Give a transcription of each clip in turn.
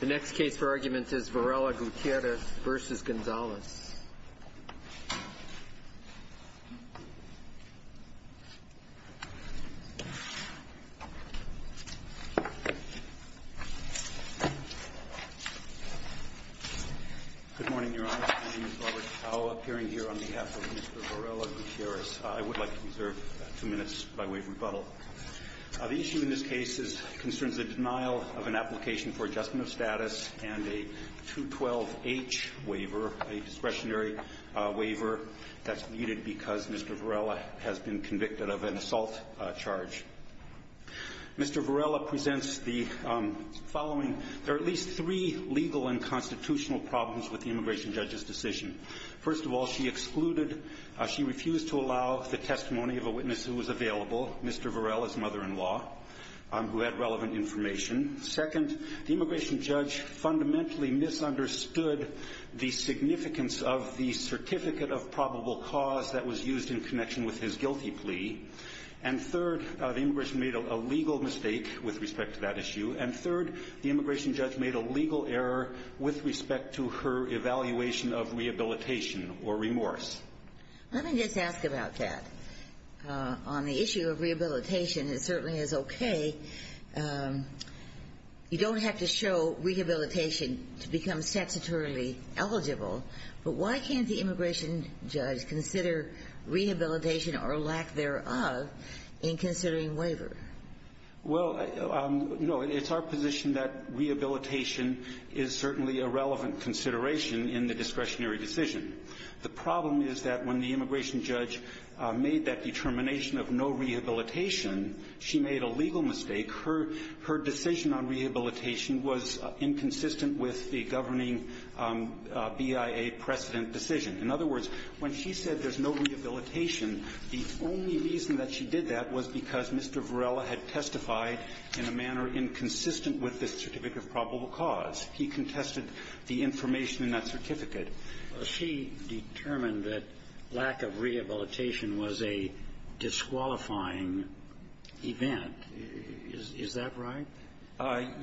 The next case for argument is Varela-Gutierrez v. Gonzales. Good morning, Your Honor. My name is Robert Tao, appearing here on behalf of Mr. Varela-Gutierrez. I would like to reserve two minutes by way of rebuttal. The issue in this case concerns the denial of an application for adjustment of status and a 212-H waiver, a discretionary waiver that's needed because Mr. Varela has been convicted of an assault charge. Mr. Varela presents the following. There are at least three legal and constitutional problems with the immigration judge's decision. First of all, she excluded, she refused to allow the testimony of a witness who was available, Mr. Varela's mother-in-law, who had relevant information. Second, the immigration judge fundamentally misunderstood the significance of the certificate of probable cause that was used in connection with his guilty plea. And third, the immigration judge made a legal mistake with respect to that issue. And third, the immigration judge made a legal error with respect to her evaluation of rehabilitation or remorse. Let me just ask about that. On the issue of rehabilitation, it certainly is okay. You don't have to show rehabilitation to become statutorily eligible, but why can't the immigration judge consider rehabilitation or lack thereof in considering waiver? Well, no, it's our position that rehabilitation is certainly a relevant consideration in the discretionary decision. The problem is that when the immigration judge made that determination of no rehabilitation, she made a legal mistake. Her decision on rehabilitation was inconsistent with the governing BIA precedent decision. In other words, when she said there's no rehabilitation, the only reason that she did that was because Mr. Varela had testified in a manner inconsistent with the certificate of probable cause. He contested the information in that certificate. She determined that lack of rehabilitation was a disqualifying event. Is that right?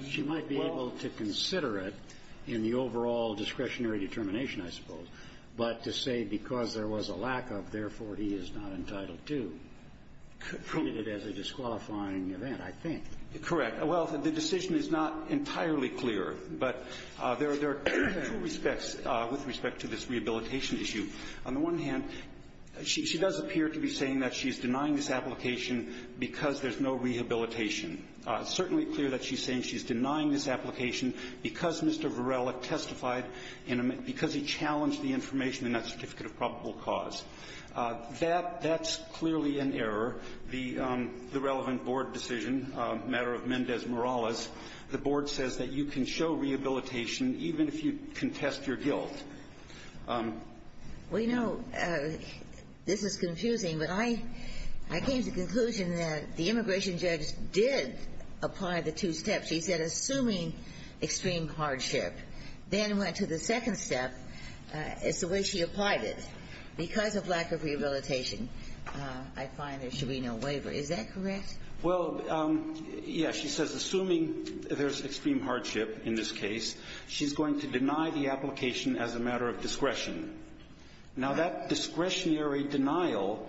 She might be able to consider it in the overall discretionary determination, I suppose, but to say because there was a lack of, therefore, he is not entitled to treat it as a disqualifying event, I think. Correct. Well, the decision is not entirely clear, but there are two respects with respect to this rehabilitation issue. On the one hand, she does appear to be saying that she's denying this application because there's no rehabilitation. It's certainly clear that she's saying she's denying this application because Mr. Varela testified in a manner — because he challenged the information in that certificate of probable cause. That's clearly an error. The relevant board decision, the matter of Mendez-Morales, the board says that you can show rehabilitation even if you contest your guilt. Well, you know, this is confusing, but I came to the conclusion that the immigration judge did apply the two steps. She said assuming extreme hardship, then went to the second step. It's the way she applied it. Because of lack of rehabilitation, I find there should be no waiver. Is that correct? Well, yes. She says assuming there's extreme hardship in this case, she's going to deny the application as a matter of discretion. Now, that discretionary denial,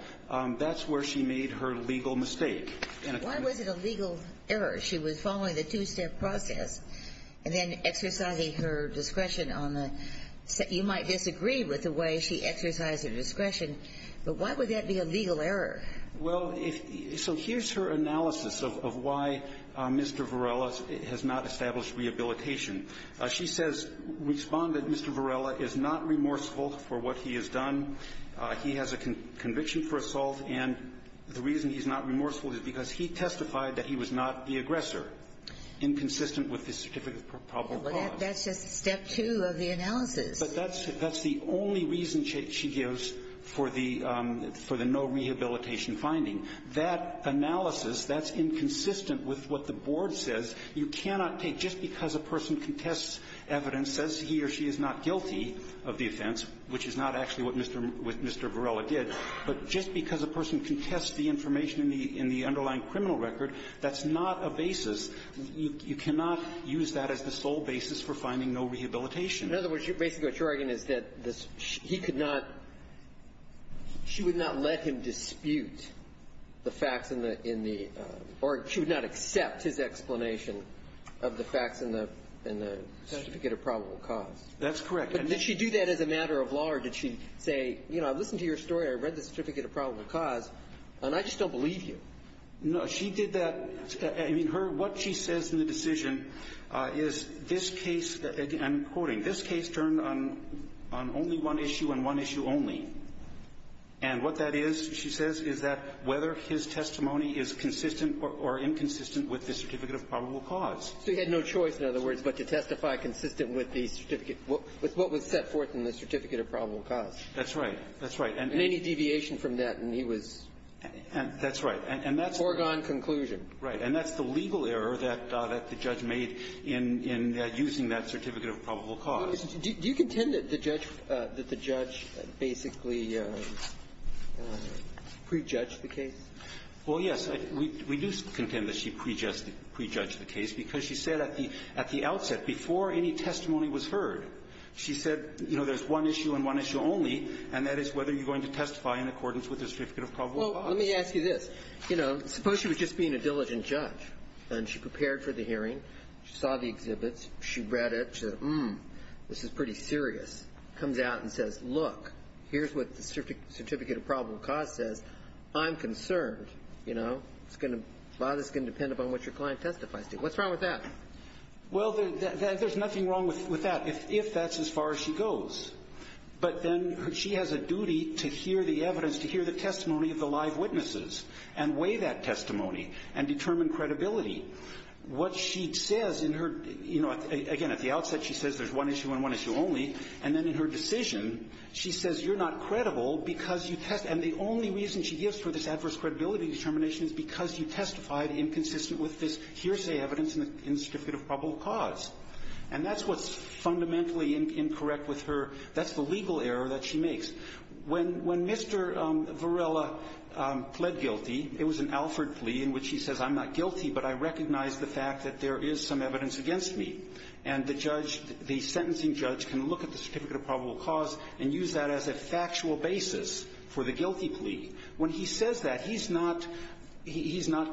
that's where she made her legal mistake. Why was it a legal error? She was following the two-step process and then exercising her discretion on the — you might disagree with the way she exercised her discretion, but why would that be a legal error? Well, if — so here's her analysis of why Mr. Varela has not established rehabilitation. She says Respondent Mr. Varela is not remorseful for what he has done. He has a conviction for assault, and the reason he's not remorseful is because he testified that he was not the aggressor, inconsistent with the certificate of probable cause. That's just step two of the analysis. But that's the only reason she gives for the no rehabilitation finding. That analysis, that's inconsistent with what the board says. You cannot take just because a person contests evidence, says he or she is not guilty of the offense, which is not actually what Mr. Varela did, but just because a person contests the information in the underlying criminal record, that's not a basis. You cannot use that as the sole basis for finding no rehabilitation. In other words, basically what you're arguing is that he could not — she would not let him dispute the facts in the — or she would not accept his explanation of the facts in the certificate of probable cause. That's correct. But did she do that as a matter of law, or did she say, you know, I've listened to your story, I read the certificate of probable cause, and I just don't believe you? No. She did that — I mean, her — what she says in the decision is this case — I'm quoting — this case turned on only one issue and one issue only. And what that is, she says, is that whether his testimony is consistent or inconsistent with the certificate of probable cause. So he had no choice, in other words, but to testify consistent with the certificate — with what was set forth in the certificate of probable cause. That's right. That's right. And any deviation from that, and he was foregone conclusion. Right. And that's the legal error that the judge made in using that certificate of probable cause. Do you contend that the judge — that the judge basically prejudged the case? Well, yes. We do contend that she prejudged the case, because she said at the outset, before any testimony was heard, she said, you know, there's one issue and one issue only, and that is whether you're going to testify in accordance with the certificate of probable cause. Well, let me ask you this. You know, suppose she was just being a diligent judge, and she prepared for the hearing. She saw the exhibits. She read it. She said, hmm, this is pretty serious. Comes out and says, look, here's what the certificate of probable cause says. I'm concerned, you know. It's going to — a lot of this is going to depend upon what your client testifies to you. What's wrong with that? Well, there's nothing wrong with that, if that's as far as she goes. But then she has a duty to hear the evidence, to hear the testimony of the live witnesses, and weigh that testimony, and determine credibility. What she says in her — you know, again, at the outset, she says there's one issue and one issue only, and then in her decision, she says you're not credible because you — and the only reason she gives for this adverse credibility determination is because you testified inconsistent with this hearsay evidence in the certificate of probable cause. And that's what's fundamentally incorrect with her. That's the legal error that she makes. When Mr. Varela pled guilty, it was an Alford plea in which he says I'm not guilty, but I recognize the fact that there is some evidence against me. And the judge — the sentencing judge can look at the certificate of probable cause and use that as a factual basis for the guilty plea. When he says that, he's not — he's not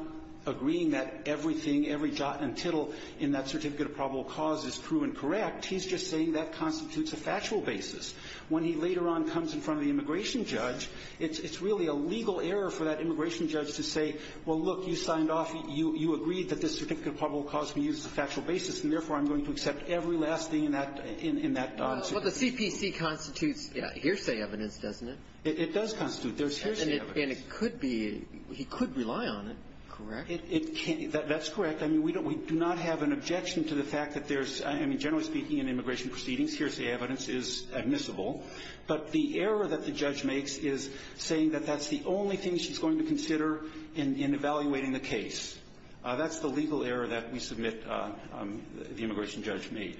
agreeing that everything, every jot and tittle in that certificate of probable cause is true and correct. He's just saying that constitutes a factual basis. When he later on comes in front of the immigration judge, it's really a legal error for that immigration judge to say, well, look, you signed off — you agreed that this certificate of probable cause can be used as a factual basis, and therefore, I'm going to accept every last thing in that — in that — Well, the CPC constitutes hearsay evidence, doesn't it? It does constitute. There's hearsay evidence. And it could be — he could rely on it, correct? It can — that's correct. I mean, we don't — we do not have an objection to the fact that there's — I mean, generally speaking, in immigration proceedings, hearsay evidence is admissible. But the error that the judge makes is saying that that's the only thing she's going to consider in evaluating the case. That's the legal error that we submit — the immigration judge made.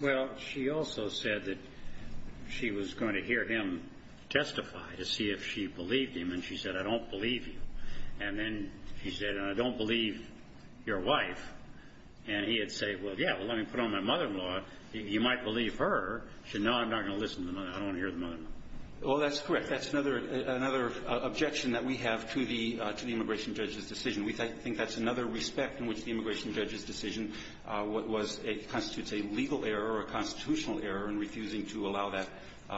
Well, she also said that she was going to hear him testify to see if she believed him. And she said, I don't believe you. And then she said, and I don't believe your wife. And he had said, well, yeah, well, let me put on my mother-in-law. You might believe her. She said, no, I'm not going to listen to the mother. I don't want to hear the mother. Well, that's correct. That's another — another objection that we have to the — to the immigration judge's decision. We think that's another respect in which the immigration judge's decision was a — constitutes a legal error or a constitutional error in refusing to allow that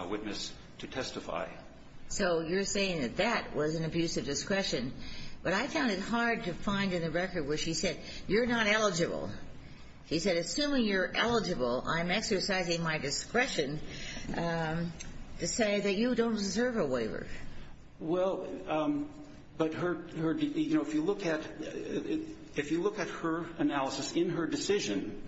witness to testify. So you're saying that that was an abuse of discretion. But I found it hard to find in the record where she said, you're not eligible. She said, assuming you're eligible, I'm exercising my discretion to say that you don't deserve a waiver. Well, but her — her — you know, if you look at — if you look at her analysis in her decision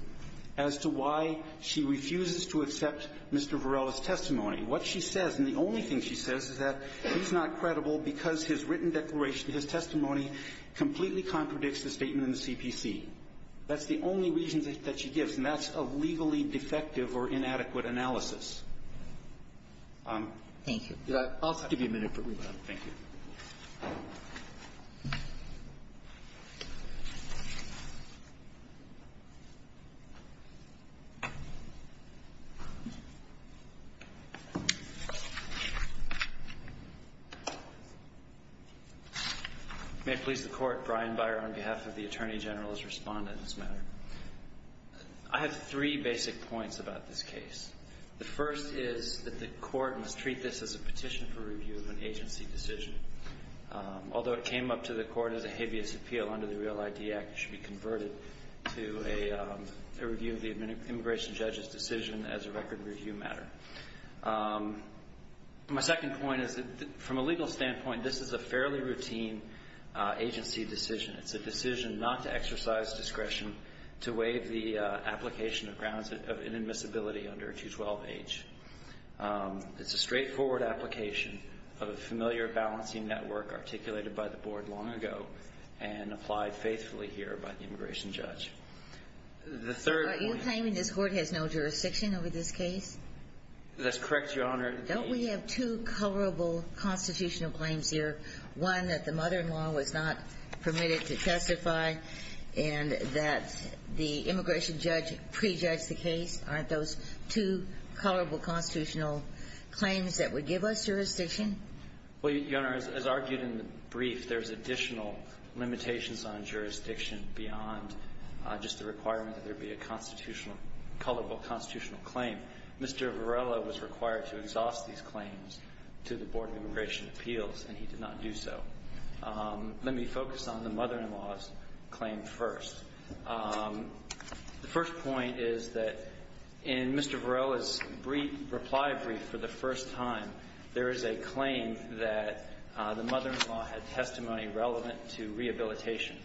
as to why she refuses to accept Mr. Varela's testimony, what she says, and the only thing she says, is that he's not credible because his written declaration, his testimony, completely contradicts the statement in the CPC. That's the only reason that she gives, and that's a legally defective or inadequate analysis. Thank you. I'll give you a minute for rebuttal. Thank you. May it please the Court, Brian Beyer, on behalf of the Attorney General, has responded to this matter. I have three basic points about this case. The first is that the Court must treat this as a petition for review of an agency decision. Although it came up to the Court as a habeas appeal under the REAL ID Act, it should be converted to a review of the immigration judge's decision as a record review matter. My second point is that, from a legal standpoint, this is a fairly routine agency decision. It's a decision not to exercise discretion to waive the application of grounds of inadmissibility under a 212H. It's a straightforward application of a familiar balancing network articulated by the Board long ago and applied faithfully here by the immigration judge. The third point – Are you claiming this Court has no jurisdiction over this case? That's correct, Your Honor. Don't we have two coverable constitutional claims here? One, that the mother-in-law was not permitted to testify, and that the immigration judge prejudged the case? Aren't those two coverable constitutional claims that would give us jurisdiction? Well, Your Honor, as argued in the brief, there's additional limitations on jurisdiction beyond just the requirement that there be a constitutional – coverable constitutional claim. Mr. Varela was required to exhaust these claims to the Board of Immigration Appeals, and he did not do so. Let me focus on the mother-in-law's claim first. The first point is that in Mr. Varela's brief, reply brief, for the first time, there is a claim that the mother-in-law had testimony relevant to rehabilitation.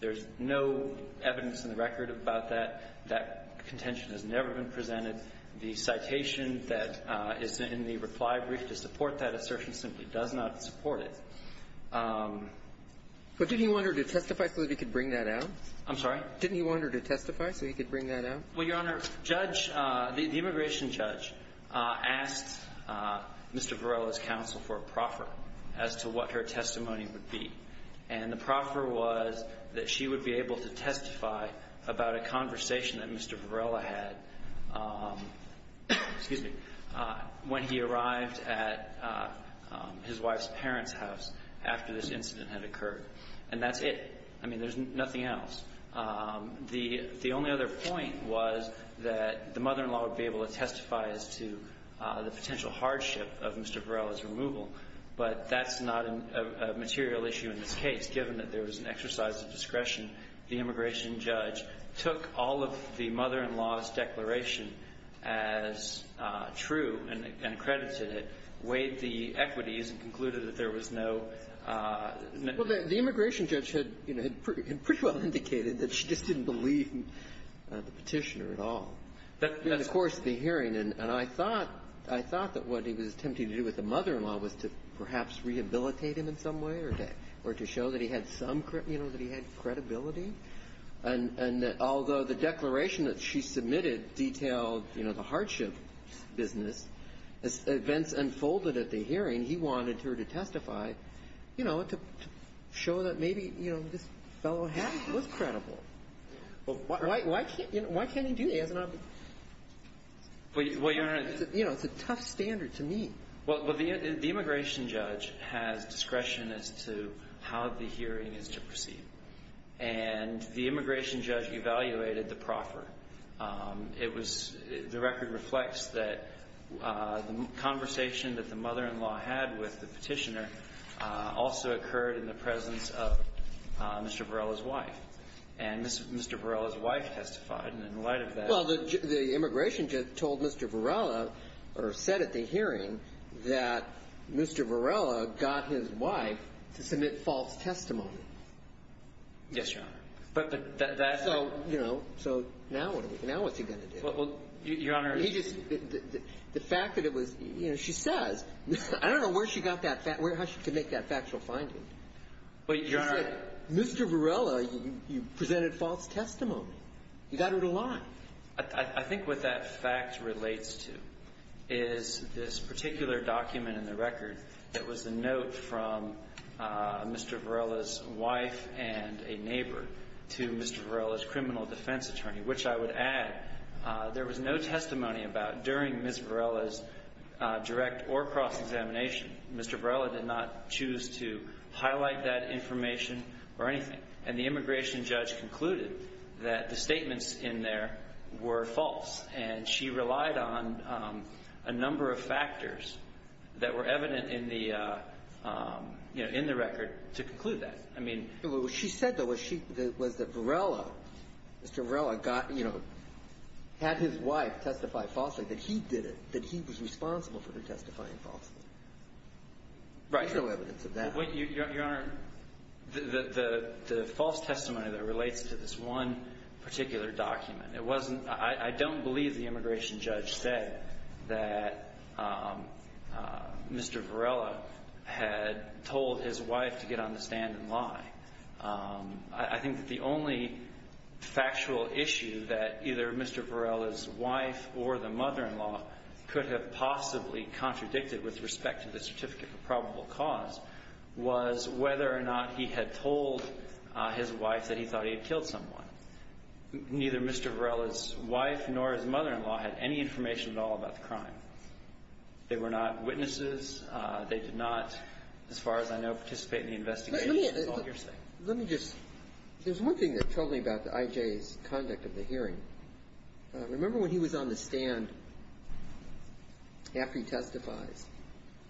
There's no evidence in the record about that. That contention has never been presented. The citation that is in the reply brief to support that assertion simply does not support it. But did he want her to testify so that he could bring that out? I'm sorry? Didn't he want her to testify so he could bring that out? Well, Your Honor, judge – the immigration judge asked Mr. Varela's counsel for a proffer as to what her testimony would be. And the proffer was that she would be able to testify about a conversation that Mr. Varela had – excuse me – when he arrived at his wife's parents' house after this incident had occurred. And that's it. I mean, there's nothing else. The only other point was that the mother-in-law would be able to testify as to the potential hardship of Mr. Varela's removal. But that's not a material issue in this case, given that there was an exercise of discretion. The immigration judge took all of the mother-in-law's declaration as true and accredited it, weighed the equities, and concluded that there was no – Well, the immigration judge had pretty well indicated that she just didn't believe in the petitioner at all. That's – In the course of the hearing. And I thought – I thought that what he was attempting to do with the mother-in-law was to perhaps rehabilitate him in some way or to show that he had some – that he had credibility. And although the declaration that she submitted detailed the hardship business, as well as to show that maybe, you know, this fellow had – was credible. Well, why can't – why can't he do that? It's not – Well, Your Honor – You know, it's a tough standard to meet. Well, the immigration judge has discretion as to how the hearing is to proceed. And the immigration judge evaluated the proffer. It was – the record reflects that the conversation that the mother-in-law had with the petitioner also occurred in the presence of Mr. Varela's wife. And Mr. Varela's wife testified. And in light of that – Well, the immigration judge told Mr. Varela – or said at the hearing that Mr. Varela got his wife to submit false testimony. Yes, Your Honor. But that's – So, you know, so now what's he going to do? Well, Your Honor – He just – the fact that it was – you know, she says – I don't know where she got that – how she could make that factual finding. She said, Mr. Varela, you presented false testimony. You got her to lie. I think what that fact relates to is this particular document in the record that was the note from Mr. Varela's wife and a neighbor to Mr. Varela's criminal defense attorney, which I would add there was no testimony about during Ms. Varela's direct or cross-examination. Mr. Varela did not choose to highlight that information or anything. And the immigration judge concluded that the statements in there were false. And she relied on a number of factors that were evident in the – you know, in the record to conclude that. I mean – What she said, though, was that Varela – Mr. Varela got – you know, had his wife testify falsely, that he did it, that he was responsible for her testifying falsely. There's no evidence of that. Right. Your Honor, the false testimony that relates to this one particular document, it wasn't – I don't believe the immigration judge said that Mr. Varela had told his wife to get on the stand and lie. I think that the only factual issue that either Mr. Varela's wife or the mother-in-law could have possibly contradicted with respect to the certificate for probable cause was whether or not he had told his wife that he thought he had killed someone. Neither Mr. Varela's wife nor his mother-in-law had any information at all about the crime. They were not witnesses. They did not, as far as I know, participate in the investigation. That's all you're saying. Let me just – there's one thing that troubled me about I.J.'s conduct of the hearing. Remember when he was on the stand after he testifies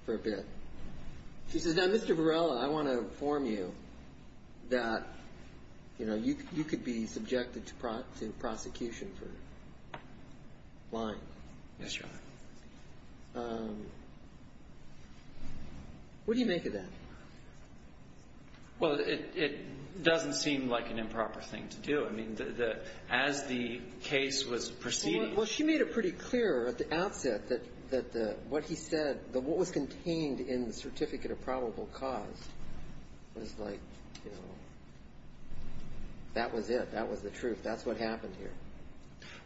for a bit? He says, now, Mr. Varela, I want to inform you that, you know, you could be subjected to prosecution for lying. Yes, Your Honor. What do you make of that? Well, it doesn't seem like an improper thing to do. I mean, as the case was proceeding – Well, she made it pretty clear at the outset that what he said, what was contained in the certificate of probable cause was like, you know, that was it. That was the truth. That's what happened here.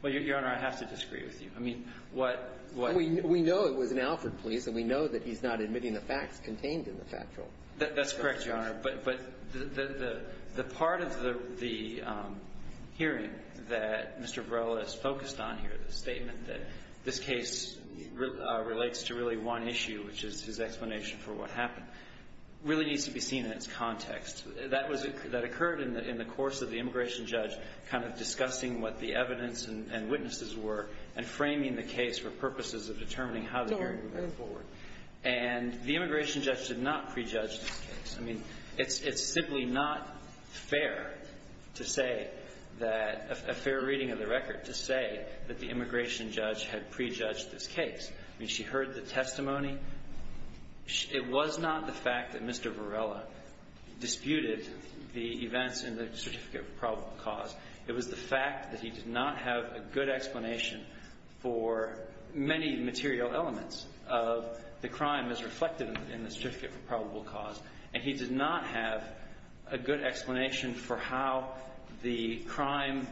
Well, Your Honor, I have to disagree with you. I mean, what – We know it was an Alford police, and we know that he's not admitting the facts contained in the factual. That's correct, Your Honor. But the part of the hearing that Mr. Varela is focused on here, the statement that this case relates to really one issue, which is his explanation for what happened, really needs to be seen in its context. That was – that occurred in the course of the immigration judge kind of discussing what the evidence and witnesses were and framing the case for purposes of determining how the hearing would go forward. And the immigration judge did not prejudge this case. I mean, it's simply not fair to say that – a fair reading of the record to say that the immigration judge had prejudged this case. I mean, she heard the testimony. It was not the fact that Mr. Varela disputed the events in the certificate of probable cause. It was the fact that he did not have a good explanation for many material elements of the crime as reflected in the certificate for probable cause. And he did not have a good explanation for how the crime,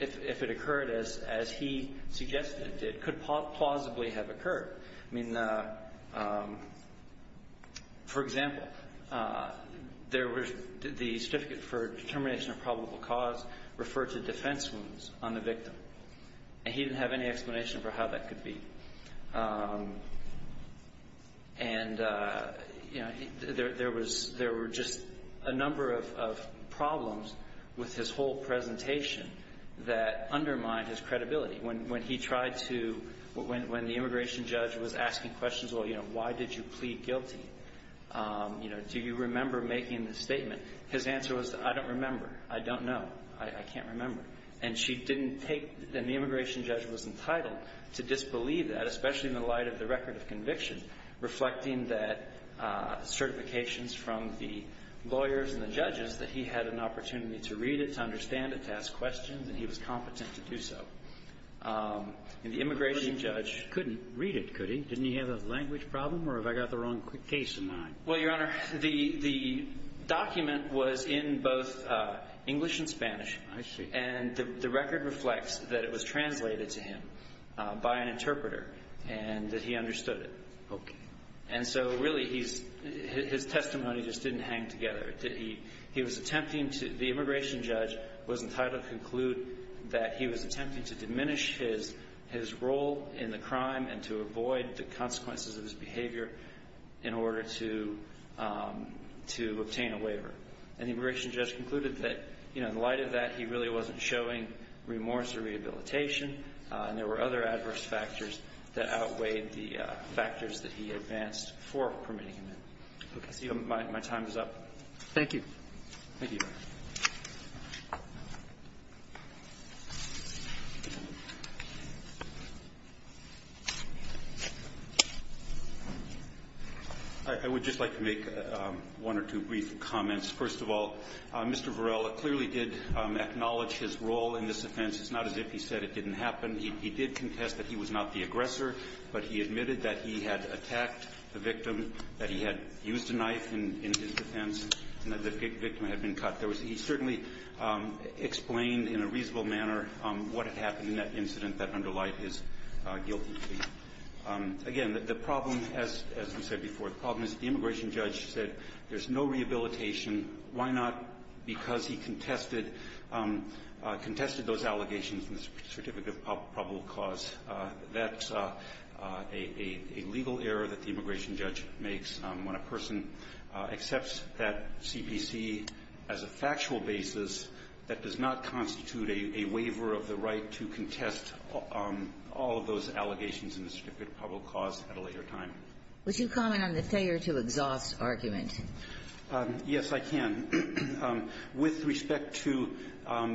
if it occurred as he suggested it did, could plausibly have occurred. I mean, for example, there was – the certificate for determination of probable cause referred to defense wounds on the victim. And he didn't have any explanation for how that could be. And, you know, there was – there were just a number of problems with his whole presentation that undermined his credibility. When he tried to – when the immigration judge was asking questions, well, you know, why did you plead guilty? You know, do you remember making the statement? His answer was, I don't remember. I don't know. I can't remember. And she didn't take – and the immigration judge was entitled to disbelieve that, especially in the light of the record of conviction, reflecting that certifications from the lawyers and the judges, that he had an opportunity to read it, to understand it, to ask questions, and he was competent to do so. And the immigration judge — Kennedy. Couldn't read it, could he? Didn't he have a language problem? Or have I got the wrong case in mind? Well, Your Honor, the document was in both English and Spanish. I see. And the record reflects that it was translated to him by an interpreter and that he understood it. Okay. And so, really, he's – his testimony just didn't hang together. He was attempting to – the immigration judge was entitled to conclude that he was attempting to diminish his role in the crime and to avoid the consequences of his behavior in order to – to obtain a waiver. And the immigration judge concluded that, you know, in light of that, he really wasn't showing remorse or rehabilitation, and there were other adverse factors that outweighed the factors that he advanced for permitting him in. Okay. Thank you. Thank you. I would just like to make one or two brief comments. First of all, Mr. Varela clearly did acknowledge his role in this offense. It's not as if he said it didn't happen. He did contest that he was not the aggressor, but he admitted that he had attacked the victim, that he had used a knife in his defense, and that the victim had been cut. He certainly explained in a reasonable manner what had happened in that incident that underlied his guilty plea. Again, the problem, as we said before, the problem is the immigration judge said there's no rehabilitation. Why not? Because he contested – contested those allegations in the certificate of probable cause. That's a legal error that the immigration judge makes when a person accepts that factual basis that does not constitute a waiver of the right to contest all of those allegations in the certificate of probable cause at a later time. Would you comment on the failure to exhaust argument? Yes, I can. With respect to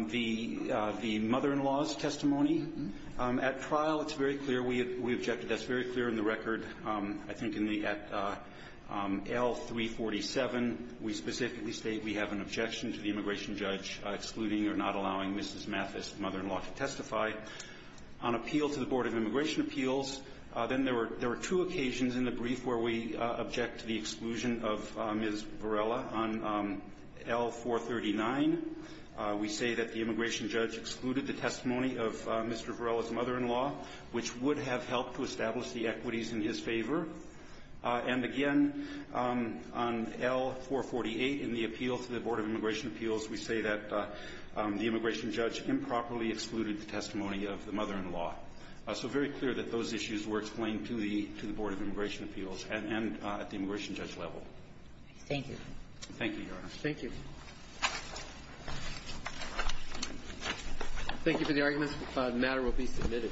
the mother-in-law's testimony, at trial it's very clear we objected. That's very clear in the record. I think in the – at L-347, we specifically state we have an objection to the immigration judge excluding or not allowing Mrs. Mathis, the mother-in-law, to testify. On appeal to the Board of Immigration Appeals, then there were – there were two occasions in the brief where we object to the exclusion of Ms. Varela on L-439. We say that the immigration judge excluded the testimony of Mr. Varela's mother-in-law, which would have helped to establish the equities in his favor. And again, on L-448, in the appeal to the Board of Immigration Appeals, we say that the immigration judge improperly excluded the testimony of the mother-in-law. So very clear that those issues were explained to the – to the Board of Immigration Appeals and at the immigration judge level. Thank you. Thank you, Your Honor. Thank you. Thank you for the arguments. The matter will be submitted.